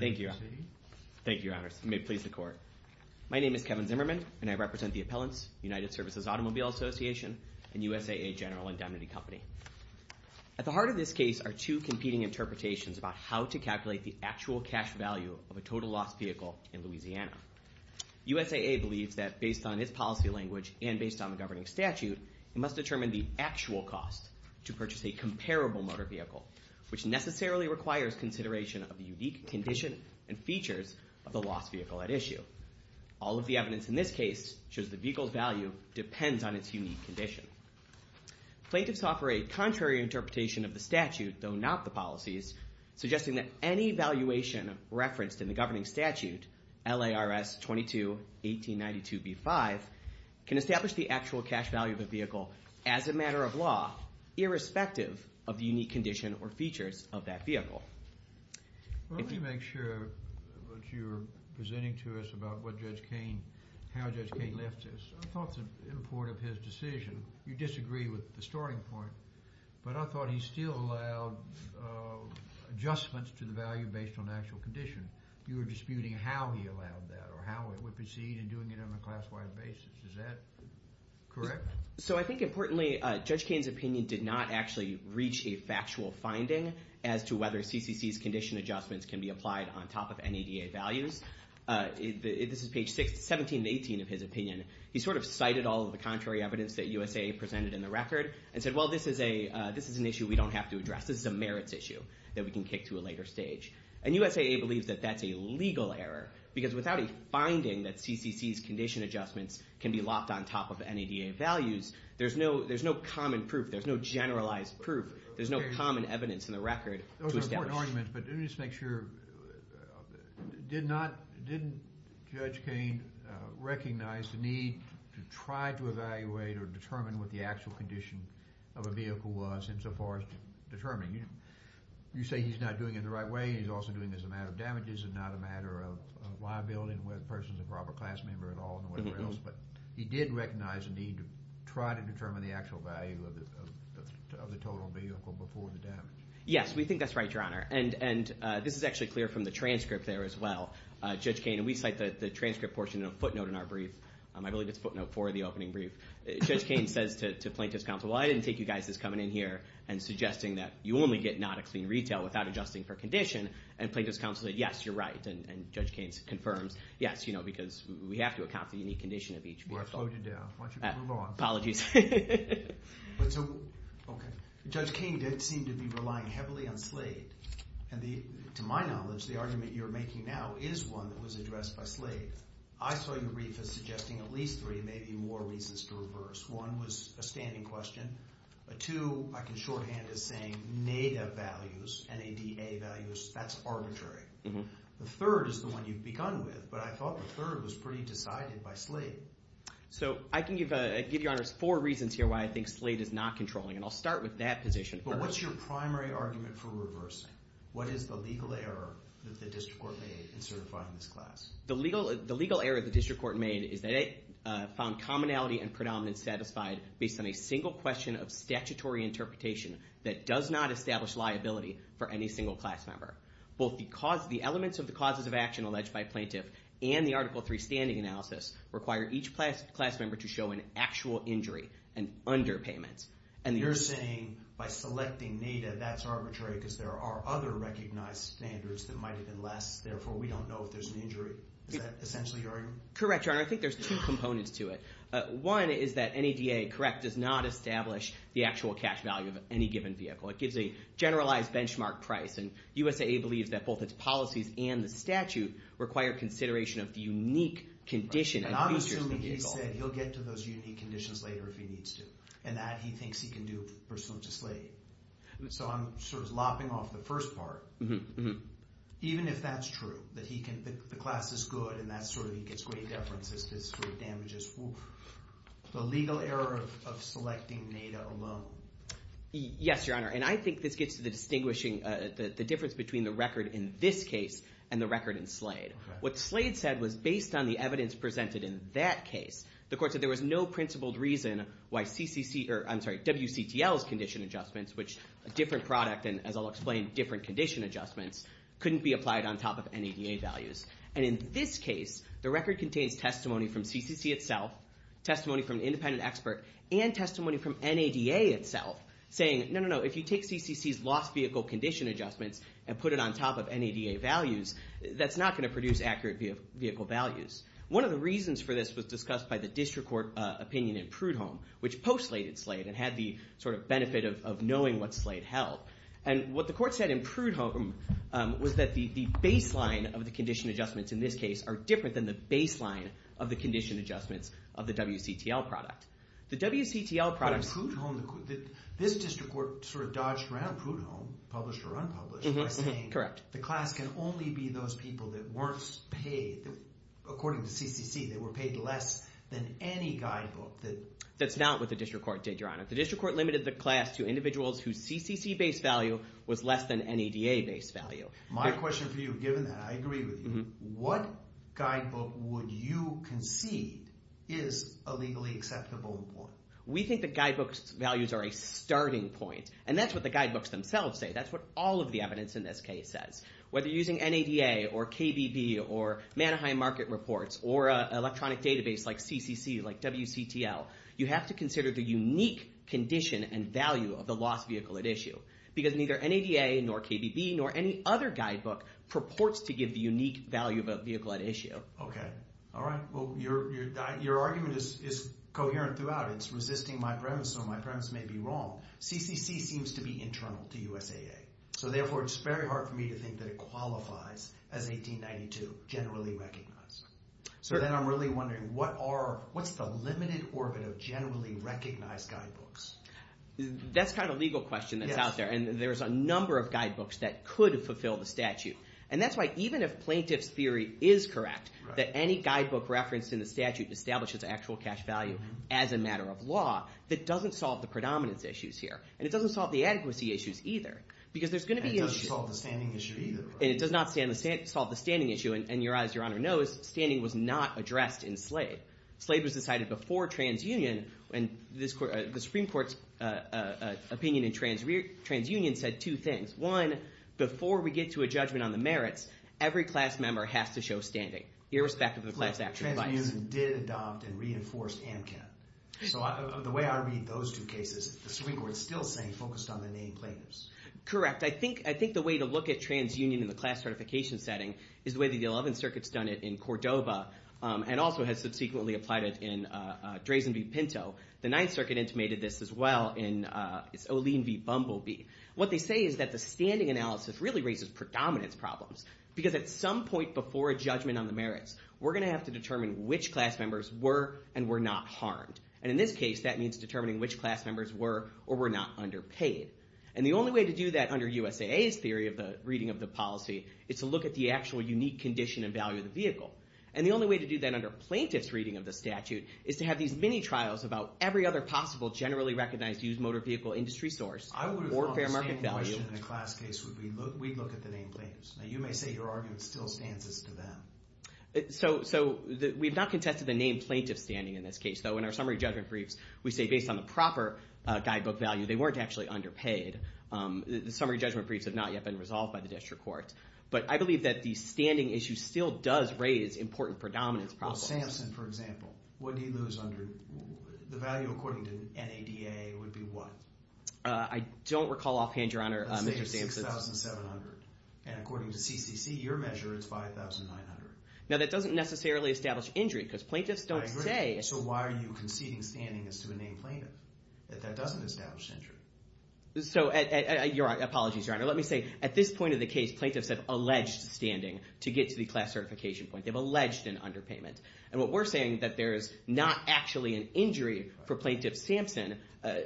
My name is Kevin Zimmerman and I represent the Appellants, United Services Automobile Association and USAA General Indemnity Company. At the heart of this case are two competing interpretations about how to calculate the actual cash value of a total loss vehicle in Louisiana. USAA believes that based on its policy language and based on the governing statute, it must determine the actual cost to purchase a comparable motor vehicle, which necessarily requires consideration of the unique condition and features of the lost vehicle at issue. All of the evidence in this case shows the vehicle's value depends on its unique condition. Plaintiffs offer a contrary interpretation of the statute, though not the policies, suggesting that any valuation referenced in the governing statute, LARS 22-1892-B5, can establish the actual cash value of a vehicle as a matter of law, irrespective of the unique condition or features of that vehicle. Well, let me make sure that you're presenting to us about what Judge Kain, how Judge Kain left this. I thought the import of his decision, you disagree with the starting point, but I thought he still allowed adjustments to the value based on the actual condition. You were disputing how he allowed that or how it would proceed and doing it on a class-wide basis. Is that correct? So I think importantly, Judge Kain's opinion did not actually reach a factual finding as to whether CCC's condition adjustments can be applied on top of NADA values. This is page 17-18 of his opinion. He sort of cited all of the contrary evidence that USAA presented in the record and said, well, this is an issue we don't have to address. This is a merits issue that we can kick to a later stage. And USAA believes that that's a legal error because without a finding that CCC's condition adjustments can be locked on top of NADA values, there's no common proof. There's no generalized proof. There's no common evidence in the record to establish. Those are important arguments, but let me just make sure. Did Judge Kain recognize the need to try to evaluate or determine what the actual condition of a vehicle was insofar as determining? You say he's not doing it the right way. He's also doing this as a matter of damages and not a matter of liability and whether the person's a proper class member at all and whatever else. But he did recognize the need to try to determine the actual value of the total vehicle before the damage. Yes, we think that's right, Your Honor. And this is actually clear from the transcript there as well. Judge Kain, we cite the transcript portion in a footnote in our brief. I believe it's footnote four of the opening brief. Judge Kain says to plaintiff's counsel, well, I was suggesting that you only get NADA clean retail without adjusting for condition. And plaintiff's counsel said, yes, you're right. And Judge Kain confirms, yes, because we have to account for the unique condition of each vehicle. Well, I slowed you down. Why don't you move on? Apologies. OK. Judge Kain did seem to be relying heavily on Slade. And to my knowledge, the argument you're making now is one that was addressed by Slade. I saw your brief as suggesting at least three, maybe more, reasons to reverse. One was a standing question. Two, I can shorthand it as saying, NADA values, N-A-D-A values, that's arbitrary. The third is the one you've begun with. But I thought the third was pretty decided by Slade. So I can give Your Honor four reasons here why I think Slade is not controlling. And I'll start with that position. But what's your primary argument for reversing? What is the legal error that the district court made in certifying this class? The legal error the district court made is that it found commonality and predominance to be satisfied based on a single question of statutory interpretation that does not establish liability for any single class member. Both the elements of the causes of action alleged by plaintiff and the Article III standing analysis require each class member to show an actual injury, an underpayment. And you're saying by selecting NADA, that's arbitrary because there are other recognized standards that might have been less. Therefore, we don't know if there's an injury. Is that essentially your argument? Correct, Your Honor. I think there's two components to it. One is that NADA, correct, does not establish the actual cash value of any given vehicle. It gives a generalized benchmark price. And USAA believes that both its policies and the statute require consideration of the unique condition. And I'm assuming he said he'll get to those unique conditions later if he needs to. And that he thinks he can do pursuant to Slade. So I'm sort of lopping off the first part. Even if that's true, that the class is good and he gets great deferences, great damages. The legal error of selecting NADA alone. Yes, Your Honor. And I think this gets to the distinguishing, the difference between the record in this case and the record in Slade. What Slade said was based on the evidence presented in that case. The court said there was no principled reason why WCTL's condition adjustments couldn't be applied on top of NADA values. And in this case, the record contains testimony from CCC itself, testimony from an independent expert, and testimony from NADA itself saying, no, no, no, if you take CCC's lost vehicle condition adjustments and put it on top of NADA values, that's not going to produce accurate vehicle values. One of the reasons for this was discussed by the district court opinion in Prudhomme, which post-slated Slade and had the sort of benefit of knowing what Slade held. And what the court said in Prudhomme was that the baseline of the condition adjustments in this case are different than the baseline of the condition adjustments of the WCTL product. The WCTL product... But in Prudhomme, this district court sort of dodged around Prudhomme, published or unpublished, by saying... Correct. ...the class can only be those people that weren't paid, according to CCC, that were paid less than any guidebook that... That's not what the district court did, Your Honor. The district court limited the class to individuals whose CCC-based value was less than NADA-based value. My question for you, given that, I agree with you. What guidebook would you concede is a legally acceptable report? We think the guidebook's values are a starting point. And that's what the guidebooks themselves say. That's what all of the evidence in this case says. Whether using NADA or KBB or Manaheim Market Reports or an electronic database like CCC, like WCTL, you have to consider the unique condition and value of the lost vehicle at issue. Because neither NADA nor KBB nor any other guidebook purports to give the unique value of a vehicle at issue. Okay. All right. Well, your argument is coherent throughout. It's resisting my premise, so my premise may be wrong. CCC seems to be internal to USAA. So therefore, it's very hard for me to think that it qualifies as 1892, generally recognized. So then I'm really wondering, what's the limited orbit of generally recognized guidebooks? That's kind of a legal question that's out there. And there's a number of guidebooks that could fulfill the statute. And that's why, even if plaintiff's theory is correct, that any guidebook referenced in the statute establishes actual cash value as a matter of law, that doesn't solve the predominance issues here. And it doesn't solve the adequacy issues either. Because there's going to be issues... And it doesn't solve the standing issue either. And it does not solve the standing issue. And your eyes, your honor, knows, standing was not addressed in Slade. Slade was decided before TransUnion. And the Supreme Court's opinion in TransUnion said two things. One, before we get to a judgment on the merits, every class member has to show standing, irrespective of the class actual device. TransUnion did adopt and reinforced AMCAP. So the way I read those two cases, the Supreme Court's still saying focused on the named plaintiffs. Correct. I think the way to look at TransUnion in the class certification setting is the way the 11th Circuit's done it in Cordova, and also has subsequently applied it in Drazen v. Pinto. The 9th Circuit intimated this as well in Olean v. Bumblebee. What they say is that the standing analysis really raises predominance problems. Because at some point before a judgment on the merits, we're going to have to determine which class members were and were not harmed. And in this case, that means determining which class members were or were not underpaid. And the only way to do that under USAA's theory of the reading of the policy is to look at the actual unique condition and value of the vehicle. And the only way to do that under plaintiff's reading of the statute is to have these mini-trials about every other possible generally recognized used motor vehicle industry source or fair market value. I would have thought the same question in a class case would be, we'd look at the named plaintiffs. Now you may say your argument still stands as to them. So we've not contested the named plaintiffs' standing in this case, though. In our summary judgment briefs, we say based on the proper guidebook value, they weren't actually underpaid. The summary judgment briefs have not yet been resolved by the district court. But I believe that the standing issue still does raise important predominance problems. Well, Samson, for example, what do you lose under the value according to NADA would be what? I don't recall offhand, Your Honor, Mr. Samson. Let's say it's 6,700. And according to CCC, your measure, it's 5,900. Now that doesn't necessarily establish injury because plaintiffs don't say. I agree. So why are you conceding standing as to a named plaintiff if that doesn't establish injury? So your apologies, Your Honor. Let me say, at this point of the case, plaintiffs have alleged standing to get to the class certification point. They've alleged an underpayment. And what we're saying that there is not actually an injury for Plaintiff Samson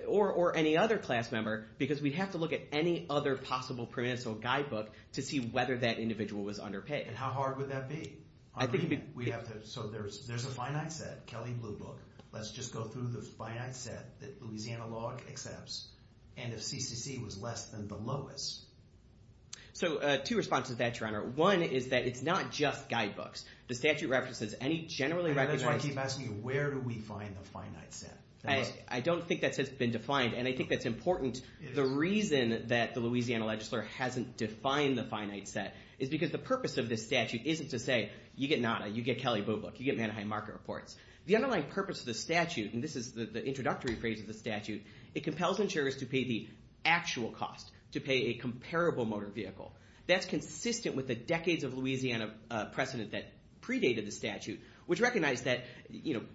or any other class member because we'd have to look at any other possible predominance or guidebook to see whether that individual was underpaid. And how hard would that be? I think it'd be... So there's a finite set, Kelly Blue Book. Let's just go through the finite set that Louisiana law accepts. And if CCC was less than the lowest. So two responses to that, Your Honor. One is that it's not just guidebooks. The statute references any generally recognized... And that's why I keep asking you, where do we find the finite set? I don't think that's been defined. And I think that's important. The reason that the Louisiana legislature hasn't defined the finite set is because the purpose of this statute isn't to say, you get NADA, you get Kelly Blue Book, you get Mannaheim Market Reports. The underlying purpose of the statute, and this is the introductory phrase of the statute, it compels insurers to pay the actual cost, to pay a comparable motor vehicle. That's consistent with the decades of Louisiana precedent that predated the statute, which recognized that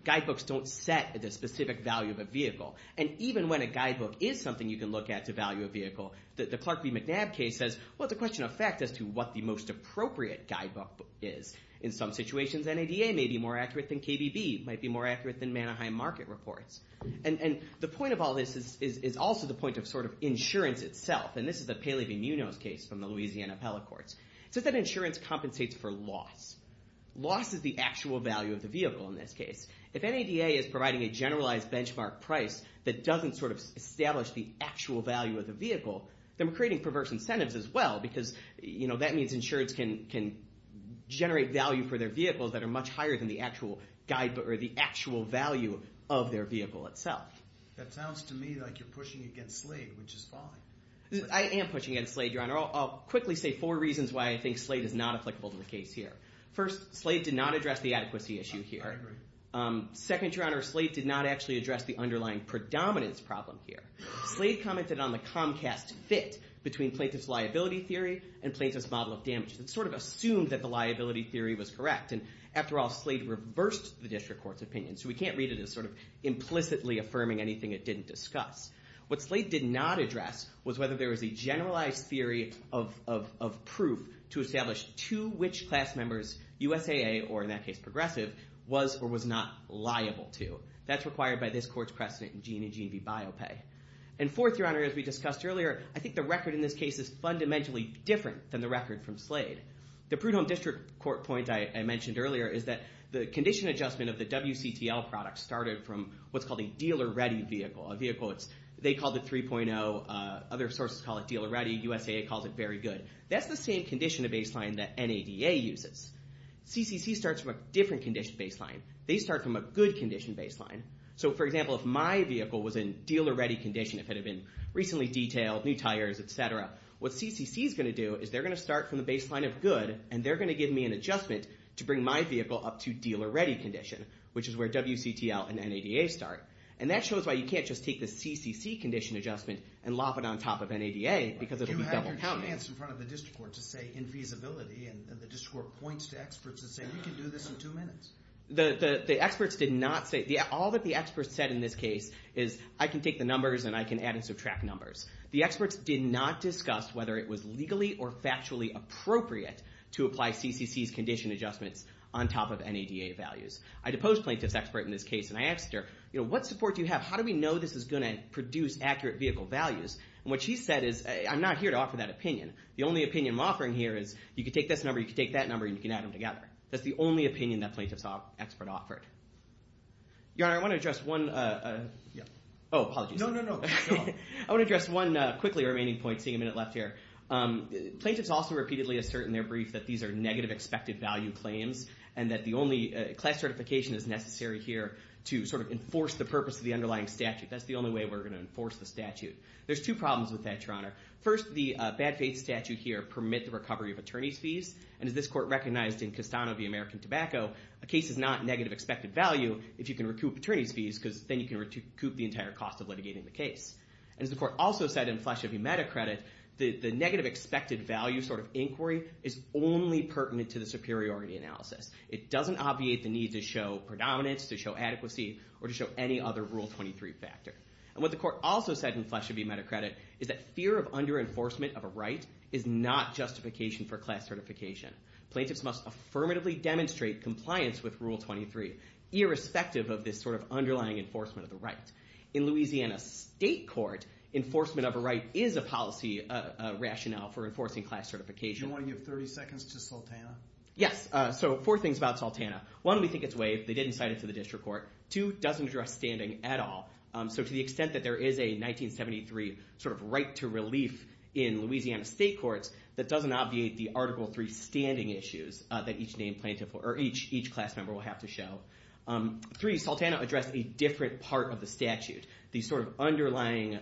guidebooks don't set the specific value of a vehicle. And even when a guidebook is something you can look at to value a vehicle, the Clark v. McNabb case says, well, it's a question of fact as to what the most appropriate guidebook is. In some situations, NADA may be more accurate than KBB, might be more accurate than Mannaheim Market Reports. And the point of all this is also the point of insurance itself. And this is the Paley v. Munoz case from the Louisiana appellate courts. It says that insurance compensates for loss. Loss is the actual value of the vehicle in this case. If NADA is providing a generalized benchmark price that doesn't establish the actual value of the vehicle, then we're creating perverse incentives as well, because that means insurers can generate value for their vehicles that are much higher than the actual guidebook or the actual value of their vehicle itself. That sounds to me like you're pushing against Slade, which is fine. I am pushing against Slade, Your Honor. I'll quickly say four reasons why I think Slade is not applicable to the case here. First, Slade did not address the adequacy issue here. I agree. Second, Your Honor, Slade did not actually address the underlying predominance problem here. Slade commented on the Comcast fit between plaintiff's liability theory and plaintiff's model of damage. It sort of assumed that the liability theory was correct. And after all, Slade reversed the district court's opinion. So we can't read it as sort of implicitly affirming anything it didn't discuss. What Slade did not address was whether there was a generalized theory of proof to establish to which class members USAA, or in that case, progressive, was or was not liable to. That's the first precedent in Gene and Gene v. Biopay. And fourth, Your Honor, as we discussed earlier, I think the record in this case is fundamentally different than the record from Slade. The prudent district court point I mentioned earlier is that the condition adjustment of the WCTL product started from what's called a dealer-ready vehicle, a vehicle that's, they called it 3.0. Other sources call it dealer-ready. USAA calls it very good. That's the same condition of baseline that NADA uses. CCC starts from a different condition baseline. They start from a good condition baseline. So for example, if my vehicle was in dealer-ready condition, if it had been recently detailed, new tires, et cetera, what CCC is going to do is they're going to start from the baseline of good, and they're going to give me an adjustment to bring my vehicle up to dealer-ready condition, which is where WCTL and NADA start. And that shows why you can't just take the CCC condition adjustment and lop it on top of NADA, because it'll be double-counting. But you have your stance in front of the district court to say infeasibility, and the district court points to experts and say, we can do this in two minutes. The experts did not say, all that the experts said in this case is, I can take the numbers and I can add and subtract numbers. The experts did not discuss whether it was legally or factually appropriate to apply CCC's condition adjustments on top of NADA values. I deposed plaintiff's expert in this case, and I asked her, what support do you have? How do we know this is going to produce accurate vehicle values? And what she said is, I'm not here to offer that opinion. The only opinion I'm offering here is, you can take this number, you can take that number, and you can add them together. That's the only opinion that the plaintiff's expert offered. Your Honor, I want to address one, oh, apologies. No, no, no, go on. I want to address one quickly remaining point, seeing a minute left here. Plaintiffs also repeatedly assert in their brief that these are negative expected value claims, and that the only class certification is necessary here to sort of enforce the purpose of the underlying statute. That's the only way we're going to enforce the statute. There's two problems with that, Your Honor. First, the bad faith statute here permit the recovery of attorney's fees, and as this court recognized in Castano v. American Tobacco, a case is not negative expected value if you can recoup attorney's fees, because then you can recoup the entire cost of litigating the case. And as the court also said in Flesher v. Metacredit, the negative expected value sort of inquiry is only pertinent to the superiority analysis. It doesn't obviate the need to show predominance, to show adequacy, or to show any other Rule 23 factor. And what the court also said in Flesher v. Metacredit is that fear of under-enforcement of a right is not justification for class certification. Plaintiffs must affirmatively demonstrate compliance with Rule 23, irrespective of this sort of underlying enforcement of the right. In Louisiana State Court, enforcement of a right is a policy rationale for enforcing class certification. Do you want to give 30 seconds to Sultana? Yes. So four things about Sultana. One, we think it's waived. They didn't cite it to the district court. Two, doesn't address standing at all. So to the extent that there is a 1973 sort of right to relief in Louisiana State Courts, that doesn't obviate the Article 3 standing issues that each name plaintiff or each class member will have to show. Three, Sultana addressed a different part of the statute. The sort of underlying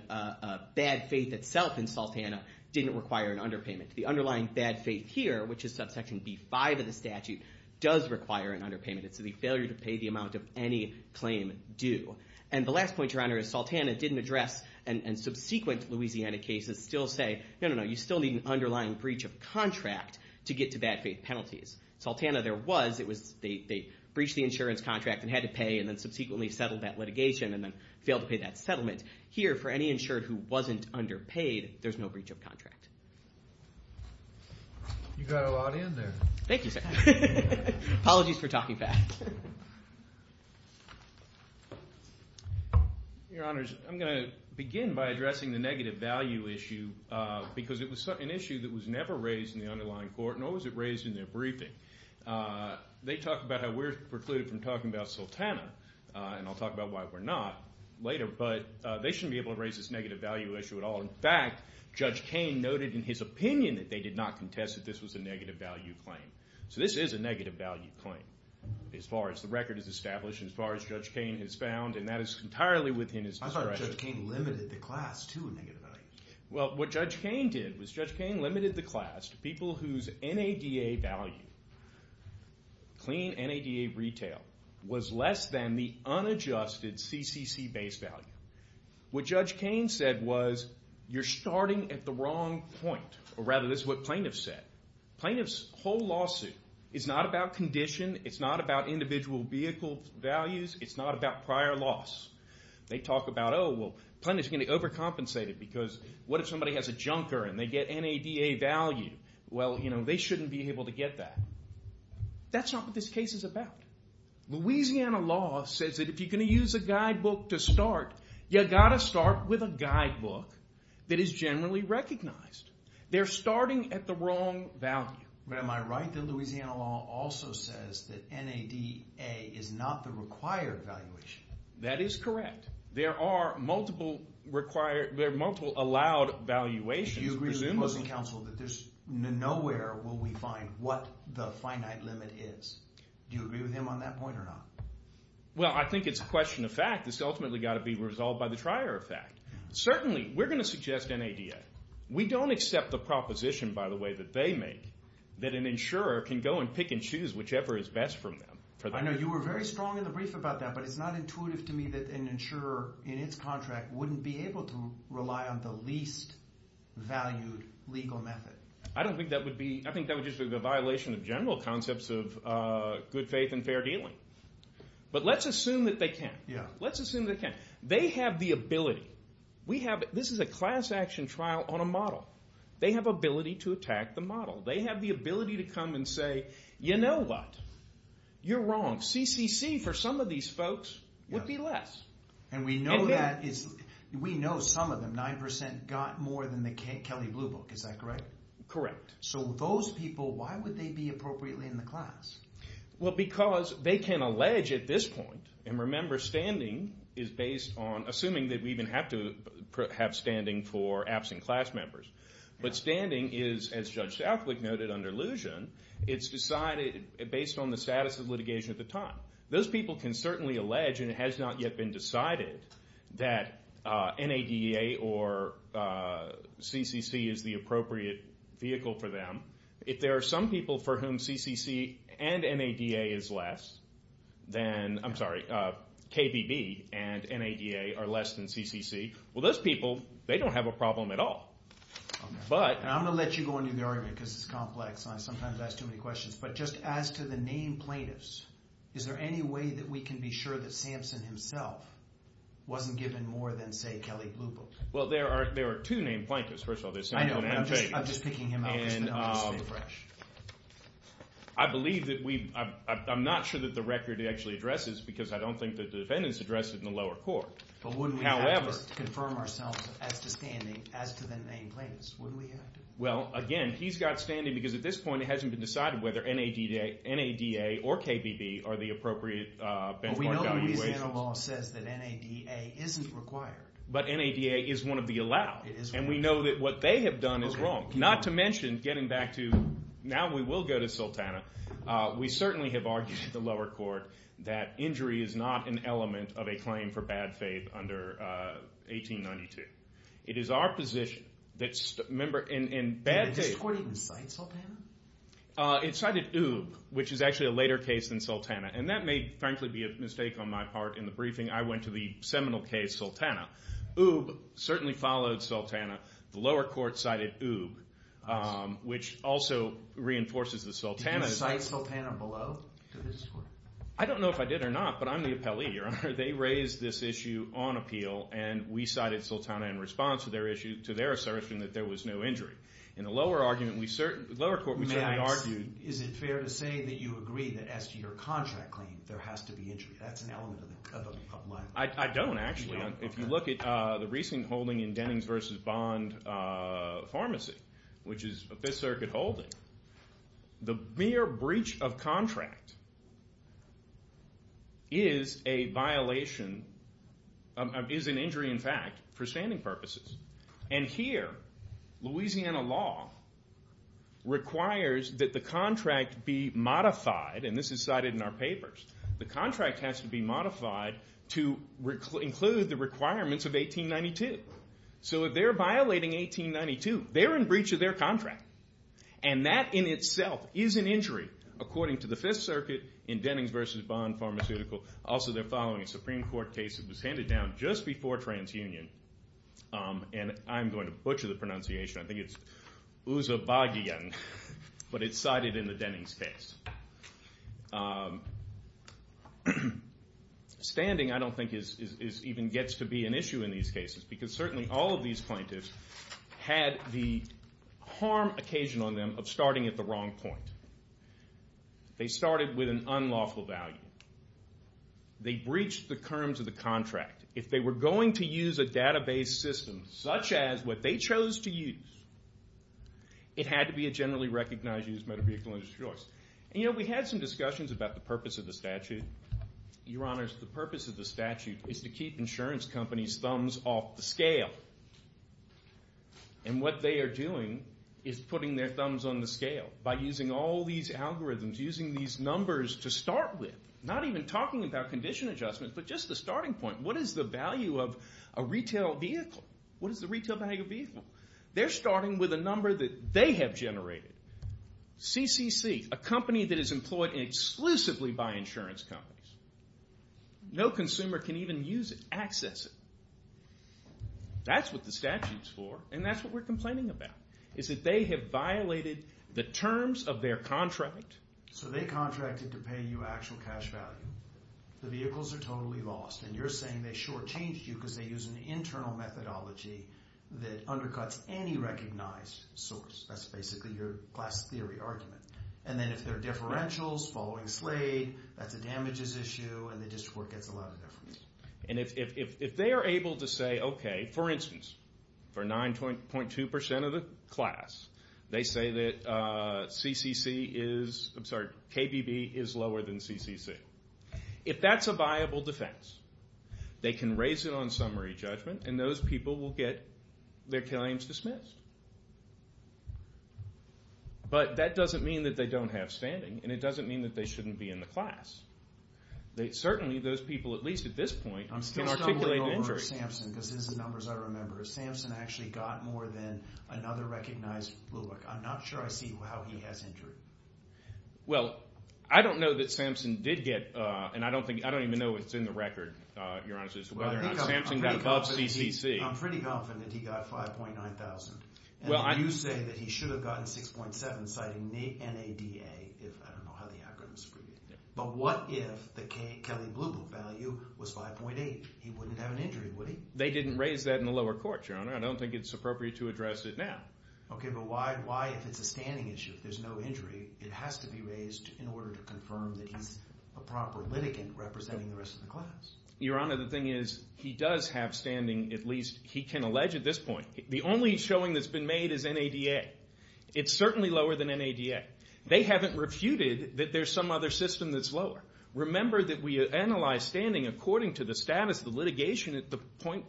bad faith itself in Sultana didn't require an underpayment. The underlying bad faith here, which is subsection B5 of the statute, does require an underpayment. It's the failure to pay the amount of any claim due. And the last point, Your Honor, is Sultana didn't address and subsequent Louisiana cases still say, no, no, no, you still need an underlying breach of contract to get to bad faith penalties. Sultana, there was. They breached the insurance contract and had to pay and then subsequently settled that litigation and then failed to pay that settlement. Here, for any insured who wasn't underpaid, there's no breach of contract. You got a lot in there. Thank you, sir. Apologies for talking fast. Your Honors, I'm going to begin by addressing the negative value issue because it was an issue that was never raised in the underlying court, nor was it raised in their briefing. They talk about how we're precluded from talking about Sultana, and I'll talk about why we're not later, but they shouldn't be able to raise this negative value issue at all. In fact, Judge Kane noted in his opinion that they did not contest that this was a negative value claim. So this is a negative value claim as far as the record is established, as far as the record is established, and that is entirely within his discretion. I thought Judge Kane limited the class to a negative value. Well, what Judge Kane did was, Judge Kane limited the class to people whose NADA value, clean NADA retail, was less than the unadjusted CCC base value. What Judge Kane said was, you're starting at the wrong point. Or rather, this is what plaintiffs said. Plaintiffs' whole lawsuit is not about condition, it's not about individual vehicle values, it's not about prior loss. They talk about, oh, well, plaintiffs are going to overcompensate it because what if somebody has a junker and they get NADA value? Well, you know, they shouldn't be able to get that. That's not what this case is about. Louisiana law says that if you're going to use a guidebook to start, you've got to start with a guidebook that is generally recognized. They're starting at the wrong value. But am I right that Louisiana law also says that NADA is not the required valuation? That is correct. There are multiple allowed valuations. Do you agree with the opposing counsel that nowhere will we find what the finite limit is? Do you agree with him on that point or not? Well, I think it's a question of fact. It's ultimately got to be resolved by the trier of fact. Certainly, we're going to suggest NADA. We don't accept the proposition, by the way, that they make that an insurer can go and pick and choose whichever is best for them. I know you were very strong in the brief about that, but it's not intuitive to me that an insurer in its contract wouldn't be able to rely on the least valued legal method. I don't think that would be I think that would just be a violation of general concepts of good faith and fair dealing. But let's assume that they can. They have the ability. This is a class action trial on a model. They have ability to attack the model. They have the ability to come and say, you know what? You're wrong. CCC for some of these folks would be less. We know some of them, 9% got more than the Kelly Blue Book. Is that correct? Correct. So those people, why would they be appropriately in the class? Well, because they can allege at this point and remember standing is based on assuming that we even have to have standing for absent class members. But standing is as Judge Southwick noted under Luzhin, it's decided based on the status of litigation at the time. Those people can certainly allege, and it has not yet been decided, that NADA or CCC is the appropriate vehicle for them. If there are some people for whom CCC and NADA is less then, I'm sorry, KBB and NADA are less than CCC, well those people, they don't have a problem at all. I'm going to let you go into the argument because it's complex and I sometimes ask too many questions, but just as to the named plaintiffs, is there any way that we can be sure that Sampson himself wasn't given more than, say, Kelly Blue Book? Well, there are two named plaintiffs. First of all, there's Sampson and Fagan. I'm just picking him out. I'm not sure that the record actually addresses because I don't think that the defendants addressed it in the lower court. But wouldn't we have to confirm ourselves as to standing as to the named plaintiffs? Wouldn't we have to? Well, again, he's got standing because at this point it hasn't been decided whether NADA or KBB are the appropriate benchmark evaluations. But we know Louisiana law says that NADA isn't required. But NADA is one of the allowed. And we know that what they have done is wrong. Not to mention, getting back to now we will go to Sultana, we certainly have argued at the lower court that injury is not an element of a claim for bad faith under 1892. It is our position that remember, in bad faith... Did this court even cite Sultana? It cited Oob, which is actually a later case than Sultana. And that may, frankly, be a mistake on my part in the briefing. I went to the seminal case Sultana. Oob certainly followed Sultana. The lower court cited Oob, which also reinforces that Sultana... Did you cite Sultana below to this court? I don't know if I did or not, but I'm the appellee, Your Honor. They raised this issue on appeal, and we cited Sultana in response to their assertion that there was no injury. In the lower court, we certainly argued... Is it fair to say that you agree that as to your contract claim, there has to be injury? That's an element of a... I don't, actually. If you look at the recent holding in Dennings v. Bond Pharmacy, which is a 5th Circuit holding, the mere breach of contract is a violation, is an injury, in fact, for standing purposes. And here, Louisiana law requires that the contract be modified, and this is cited in our papers. The contract has to be modified to include the requirements of 1892. So if they're violating 1892, they're in And that in itself is an injury, according to the 5th Circuit in Dennings v. Bond Pharmaceutical. Also, they're following a Supreme Court case that was handed down just before TransUnion, and I'm going to butcher the pronunciation. I think it's Uzabagiyan, but it's cited in the Dennings case. Standing, I don't think, even gets to be an issue in these cases, because certainly all of these plaintiffs had the harm occasioned on them of starting at the wrong point. They started with an unlawful value. They breached the curms of the contract. If they were going to use a database system such as what they chose to use, it had to be a generally recognized used motor vehicle in its choice. And you know, we had some discussions about the purpose of the statute. Your Honors, the purpose of the statute is to keep insurance companies' thumbs off the scale. And what they are doing is putting their thumbs on the scale by using all these algorithms, using these numbers to start with. Not even talking about condition adjustment, but just the starting point. What is the value of a retail vehicle? What is the retail value of a vehicle? They're starting with a number that they have generated. CCC, a company that is employed exclusively by insurance companies. No consumer can even use it, access it. That's what the statute is for, and that's what we're complaining about. They have violated the terms of their contract. So they contracted to pay you actual cash value. The vehicles are totally lost, and you're saying they shortchanged you because they used an internal methodology that undercuts any recognized source. That's basically your Glass Theory argument. And then if there are differentials following Slade, that's a damages issue, and the district court gets a lot of differentials. And if they are able to say, okay, for instance, for 9.2% of the class, they say that KBB is lower than CCC. If that's a viable defense, they can raise it on summary judgment, and those people will get their claims dismissed. But that doesn't mean that they don't have standing, and it doesn't mean that they shouldn't be in the class. Certainly, those people, at least at this point, can articulate an injury. I'm still stumbling over Samson, because this is the numbers I remember. Samson actually got more than another recognized blue book. I'm not sure I see how he has injury. Well, I don't know that Samson did get, and I don't think, I don't even know what's in the record, Your Honor, as to whether or not Samson got above CCC. I'm pretty confident he got 5.9 thousand. And you say that he should have gotten 6.7, citing NADA. I don't know how the algorithm is abbreviated. But what if the Kelly Blue Book value was 5.8? He wouldn't have an injury, would he? They didn't raise that in the lower court, Your Honor. I don't think it's appropriate to address it now. Okay, but why, if it's a standing issue, if there's no injury, it has to be raised in order to confirm that he's a proper litigant representing the rest of the class. Your Honor, the thing is, he does have standing, at least he can allege at this point. The only showing that's been made is NADA. It's certainly lower than NADA. They haven't refuted that there's some other system that's lower. Remember that we analyze standing according to the status of the litigation at the point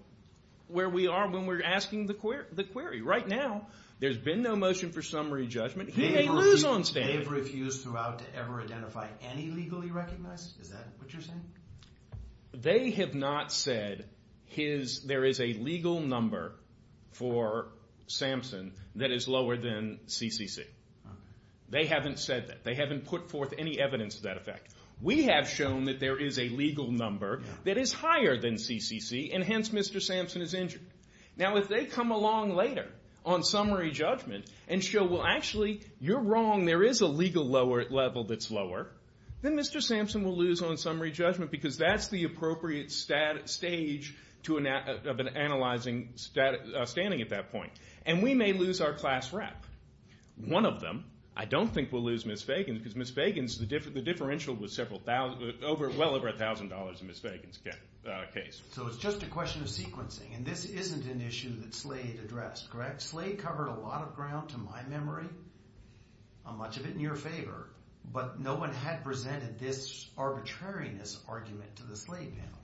where we are when we're asking the query. Right now, there's been no motion for summary judgment. He may lose on standing. They've refused throughout to ever identify any legally recognized? Is that what you're saying? They have not said there is a legal number for Samson that is lower than CCC. They haven't said that. They haven't put forth any evidence of that effect. We have shown that there is a legal number that is higher than CCC, and hence, Mr. Samson is injured. Now, if they come along later on summary judgment and show, well, actually, you're wrong, there is a legal level that's lower, then Mr. Samson will lose on summary judgment because that's the appropriate stage of analyzing standing at that point. And we may lose our class rep. One of them, I don't think, will lose Ms. Fagan because Ms. Fagan's differential was well over $1,000 in Ms. Fagan's case. So it's just a question of sequencing, and this isn't an issue that SLADE addressed, correct? SLADE covered a lot of ground to my memory. Much of it in your favor, but no one had presented this arbitrariness argument to the SLADE panel.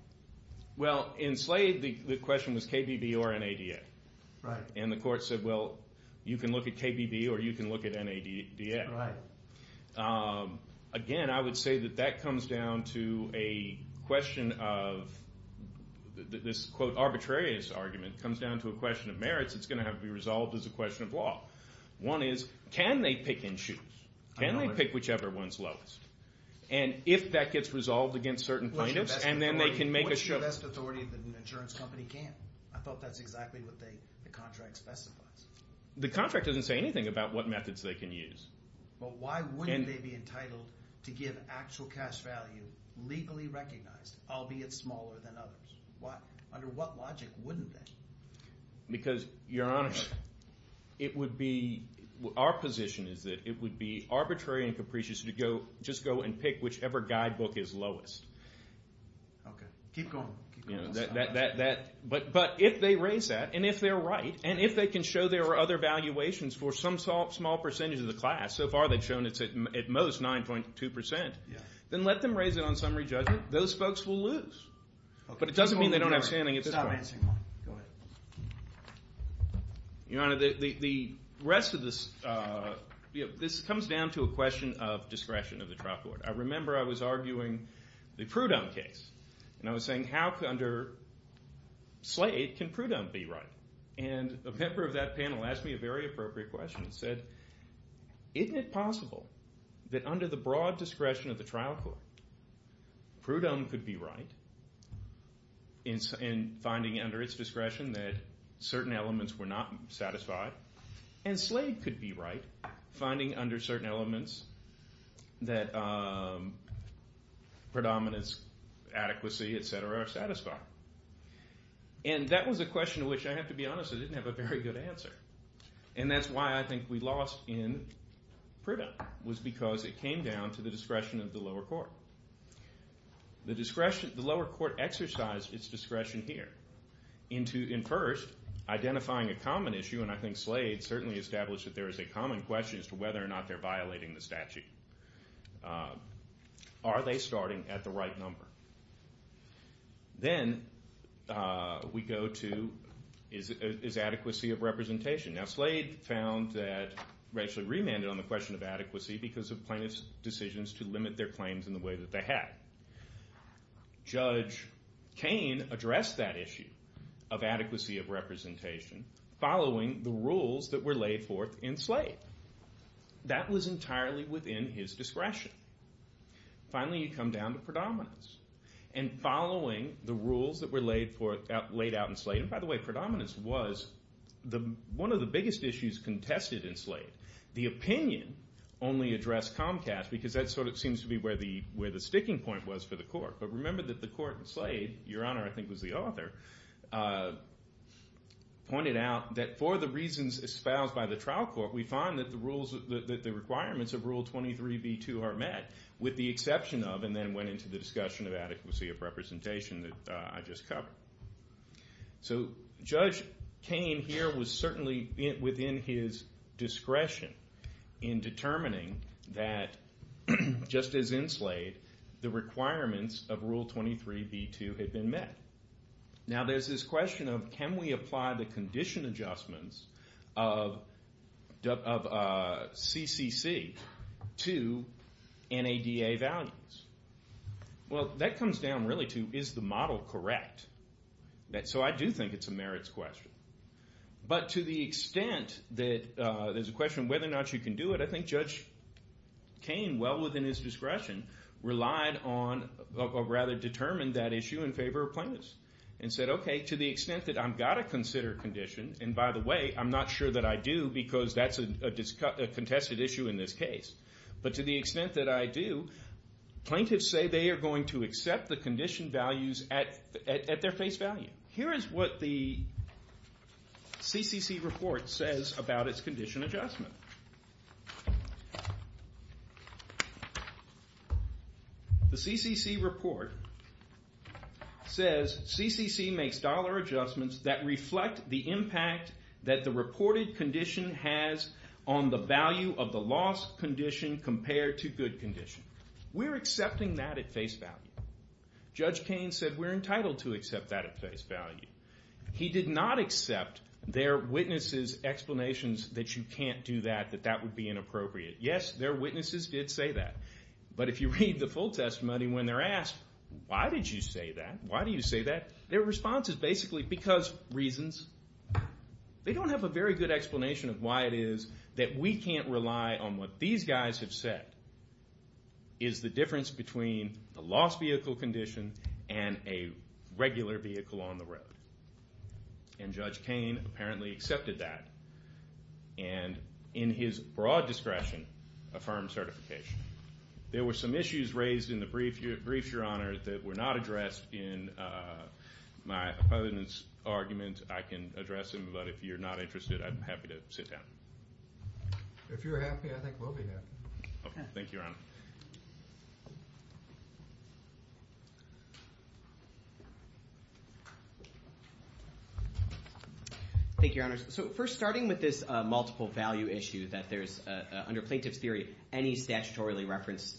Well, in SLADE, the question was KBB or NADA. And the court said, well, you can look at KBB or you can look at NADA. Again, I would say that that comes down to a question of this, quote, arbitrariness argument comes down to a question of merits that's going to have to be resolved as a question of law. One is, can they pick and choose? Can they pick whichever one's lowest? And if that gets resolved against certain plaintiffs, and then they can What's the best authority that an insurance company can? I thought that's exactly what the contract specifies. The contract doesn't say anything about what methods they can use. But why wouldn't they be entitled to give actual cash value, legally recognized, albeit smaller than others? Under what logic wouldn't they? Because, Your Honor, it would be, our position is that it would be arbitrary and capricious to just go and pick whichever guidebook is lowest. Keep going. But if they raise that, and if they're right, and if they can show there are other valuations for some small percentage of the class, so far they've shown it's at most 9.2%, then let them raise it on summary judgment. Those folks will lose. But it doesn't mean they don't have standing at this point. Your Honor, the rest of this comes down to a question of discretion of the trial court. I remember I was arguing the Prudhomme case, and I was saying how under Slade can Prudhomme be right? And a member of that panel asked me a very appropriate question and said isn't it possible that under the broad discretion of the trial court Prudhomme could be right in finding under its discretion that certain elements were not satisfied and Slade could be right finding under certain elements that predominance, adequacy, etc. are satisfied. And that was a question which, I have to be honest, I didn't have a very good answer. And that's why I think we lost in Prudhomme, was because it came down to the discretion of the lower court. The lower court exercised its discretion here in first identifying a common issue, and I think Slade certainly established that there is a common question as to whether or not they're violating the statute. Are they starting at the right number? Then we go to, is adequacy of representation? Now Slade found that, actually remanded on the question of adequacy because of plaintiff's decisions to limit their claims in the way that they had. Judge Cain addressed that issue of adequacy of representation following the rules that were laid forth in Slade. That was entirely within his discretion. Finally, you come down to predominance. And following the rules that were laid out in Slade, and by the way, predominance was one of the biggest issues contested in Slade. The opinion only addressed Comcast because that sort of seems to be where the sticking point was for the court. But remember that the court in Slade, Your Honor, I think was the author, pointed out that for the reasons espoused by the trial court, we find that the requirements of Rule 23b2 are met, with the exception of, and then went into the discussion of adequacy of representation that I just covered. Judge Cain here was certainly within his discretion in determining that just as in Slade, the requirements of Rule 23b2 had been met. Now there's this question of, can we apply the condition adjustments of CCC to NADA values? Well, that comes down really to, is the model correct? So I do think it's a merits question. But to the extent that there's a question of whether or not you can do it, I think Judge Cain, well within his discretion, relied on or rather determined that issue in favor of plaintiffs. And said, okay, to the extent that I've got to consider condition, and by the way, I'm not sure that I do because that's a contested issue in this case. But to the extent that I do, plaintiffs say they are going to accept the condition values at their face value. Here is what the CCC report says about its condition adjustment. The CCC report says, CCC makes dollar adjustments that reflect the impact that the reported condition has on the value of the loss condition compared to good condition. We're accepting that at face value. Judge Cain said we're entitled to accept that at face value. He did not accept that that would be inappropriate. Yes, their witnesses did say that. But if you read the full testimony when they're asked, why did you say that? Their response is basically because reasons. They don't have a very good explanation of why it is that we can't rely on what these guys have said is the difference between the lost vehicle condition and a regular vehicle on the road. And Judge Cain apparently accepted that. And in his broad discretion, affirmed certification. There were some issues raised in the briefs, Your Honor, that were not addressed in my opponent's argument. I can address them, but if you're not interested, I'm happy to sit down. If you're happy, I think we'll be happy. Okay, thank you, Your Honor. Thank you, Your Honor. Thank you, Your Honor. So first, starting with this multiple value issue that there's, under plaintiff's theory, any statutorily referenced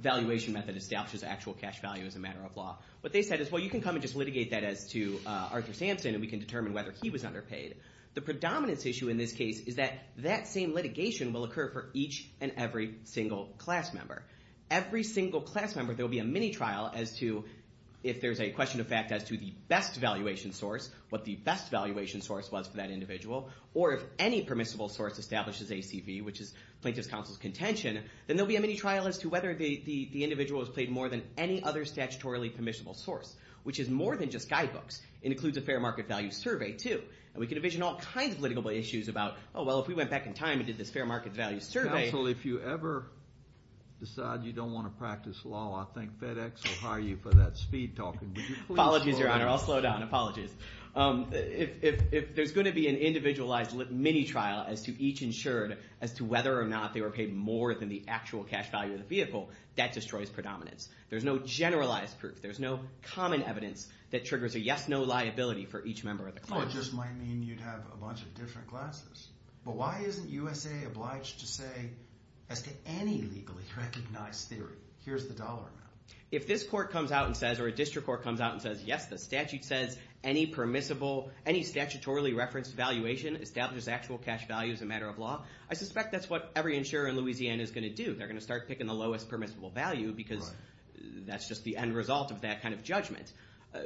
valuation method establishes actual cash value as a matter of law. What they said is, well, you can come and just litigate that as to Arthur Sampson, and we can determine whether he was underpaid. The predominance issue in this case is that that same litigation will occur for each and every single class member. Every single class member, there will be a mini trial as to if there's a question of fact as to the best valuation source, what the best valuation source was for that individual, or if any permissible source establishes ACV, which is plaintiff's counsel's contention, then there'll be a mini trial as to whether the individual has paid more than any other statutorily permissible source, which is more than just guidebooks. It includes a fair market value survey, too. And we can envision all kinds of litigable issues about, oh, well, if we went back in time and did this fair market value survey... Counsel, if you ever decide you don't want to practice law, I think FedEx will hire you for that speed talking. Would you please slow down? Apologies, Your Honor. I'll slow down. Apologies. If there's going to be an individualized mini trial as to each insured as to whether or not they were paid more than the actual cash value of the vehicle, that destroys predominance. There's no generalized proof. There's no common evidence that triggers a yes-no liability for each member of the class. Well, it just might mean you'd have a bunch of different classes. But why isn't USAA obliged to say, as to any legally recognized theory, here's the dollar amount? If this court comes out and says, or a district court comes out and says, yes, the statute says any statutorily referenced valuation establishes actual cash value as a matter of law, I suspect that's what every insurer in Louisiana is going to do. They're going to start picking the lowest permissible value because that's just the end result of that kind of judgment.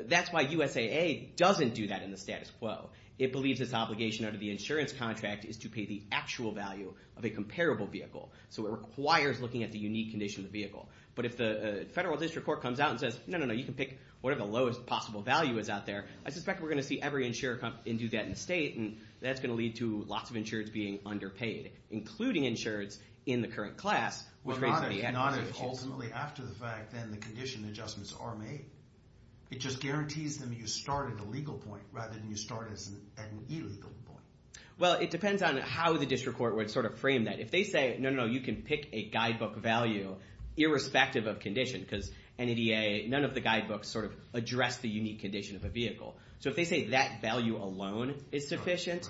That's why USAA doesn't do that in the status quo. It believes its obligation under the insurance contract is to pay the actual value of a comparable vehicle. So it requires looking at the unique condition of the vehicle. But if the federal district court comes out and says, no, no, no, you can pick whatever the lowest possible value is out there, I suspect we're going to see every insurer come and do that in the state, and that's going to lead to lots of insureds being underpaid, including insureds in the current class. Not if ultimately after the fact, then the condition adjustments are made. It just starts at a legal point rather than you start at an illegal point. Well, it depends on how the district court would sort of frame that. If they say, no, no, no, you can pick a guidebook value irrespective of condition, because NADA, none of the guidebooks sort of address the unique condition of a vehicle. So if they say that value alone is sufficient,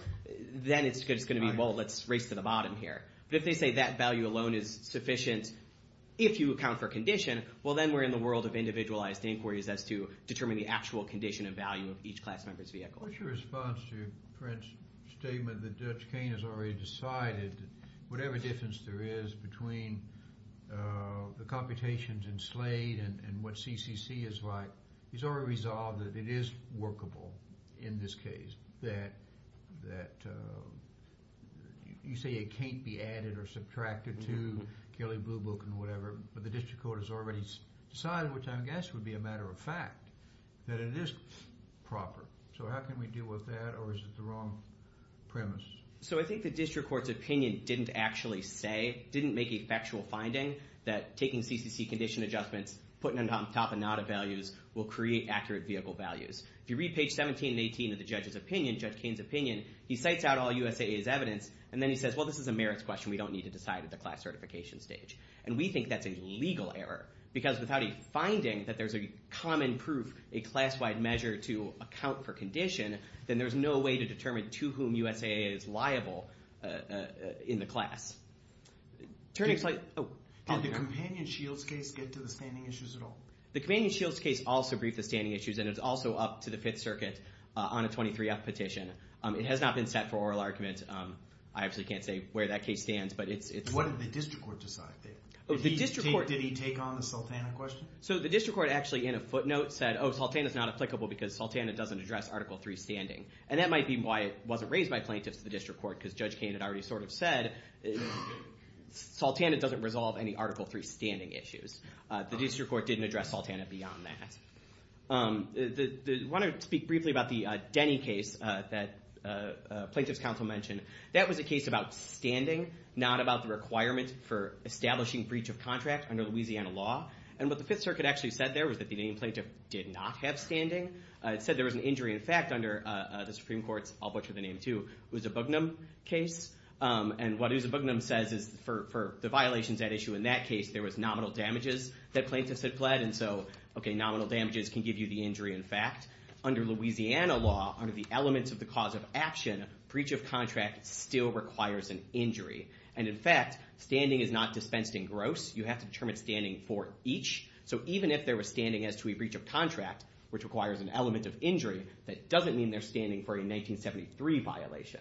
then it's going to be, well, let's race to the bottom here. But if they say that value alone is sufficient if you account for condition, well, then we're in the world of individualized inquiries as to determining the actual condition and value of each class member's vehicle. What's your response to Prince's statement that Judge Cain has already decided whatever difference there is between the computations in Slade and what CCC is like, he's already resolved that it is workable in this case, that you say it can't be added or subtracted to Kelly Blue Book and whatever, but the district court has already decided, which I guess would be a matter of fact, that it is proper. So how can we deal with that, or is it the wrong premise? So I think the district court's opinion didn't actually say, didn't make a factual finding that taking CCC condition adjustments, putting them on top of NADA values will create accurate vehicle values. If you read page 17 and 18 of the judge's opinion, Judge Cain's opinion, he cites out all USAA's evidence and then he says, well, this is a merits question, we don't need to decide at the class certification stage. And we think that's a legal error, because without a finding that there's a common proof, a class-wide measure to account for condition, then there's no way to determine to whom USAA is liable in the class. Did the Companion-Shields case get to the standing issues at all? The Companion-Shields case also briefed the standing issues, and it's also up to the Fifth Circuit on a 23-F petition. It has not been set for oral argument. I obviously can't say where that case stands, but it's... What did the district court decide? Did he take on the Sultana question? So the district court actually in a footnote said, oh, Sultana's not applicable because Sultana doesn't address Article 3 standing. And that might be why it wasn't raised by plaintiffs to the district court, because Judge Cain had already sort of said, Sultana doesn't resolve any Article 3 standing issues. The district court didn't address Sultana beyond that. I want to speak briefly about the Denny case that plaintiffs' counsel mentioned. That was a case about standing, not about the requirement for establishing breach of contract under Louisiana law. And what the Fifth Circuit actually said there was that the name plaintiff did not have standing. It said there was an injury in fact under the Supreme Court's, I'll butcher the name too, Uzabugnum case. And what Uzabugnum says is for the violations at issue in that case, there was nominal damages that plaintiffs had pled. And so, okay, nominal damages can give you the injury in fact. Under Louisiana law, under the elements of the breach of contract, still requires an injury. And in fact, standing is not dispensed in gross. You have to determine standing for each. So even if there was standing as to a breach of contract, which requires an element of injury, that doesn't mean there's standing for a 1973 violation. Thank you.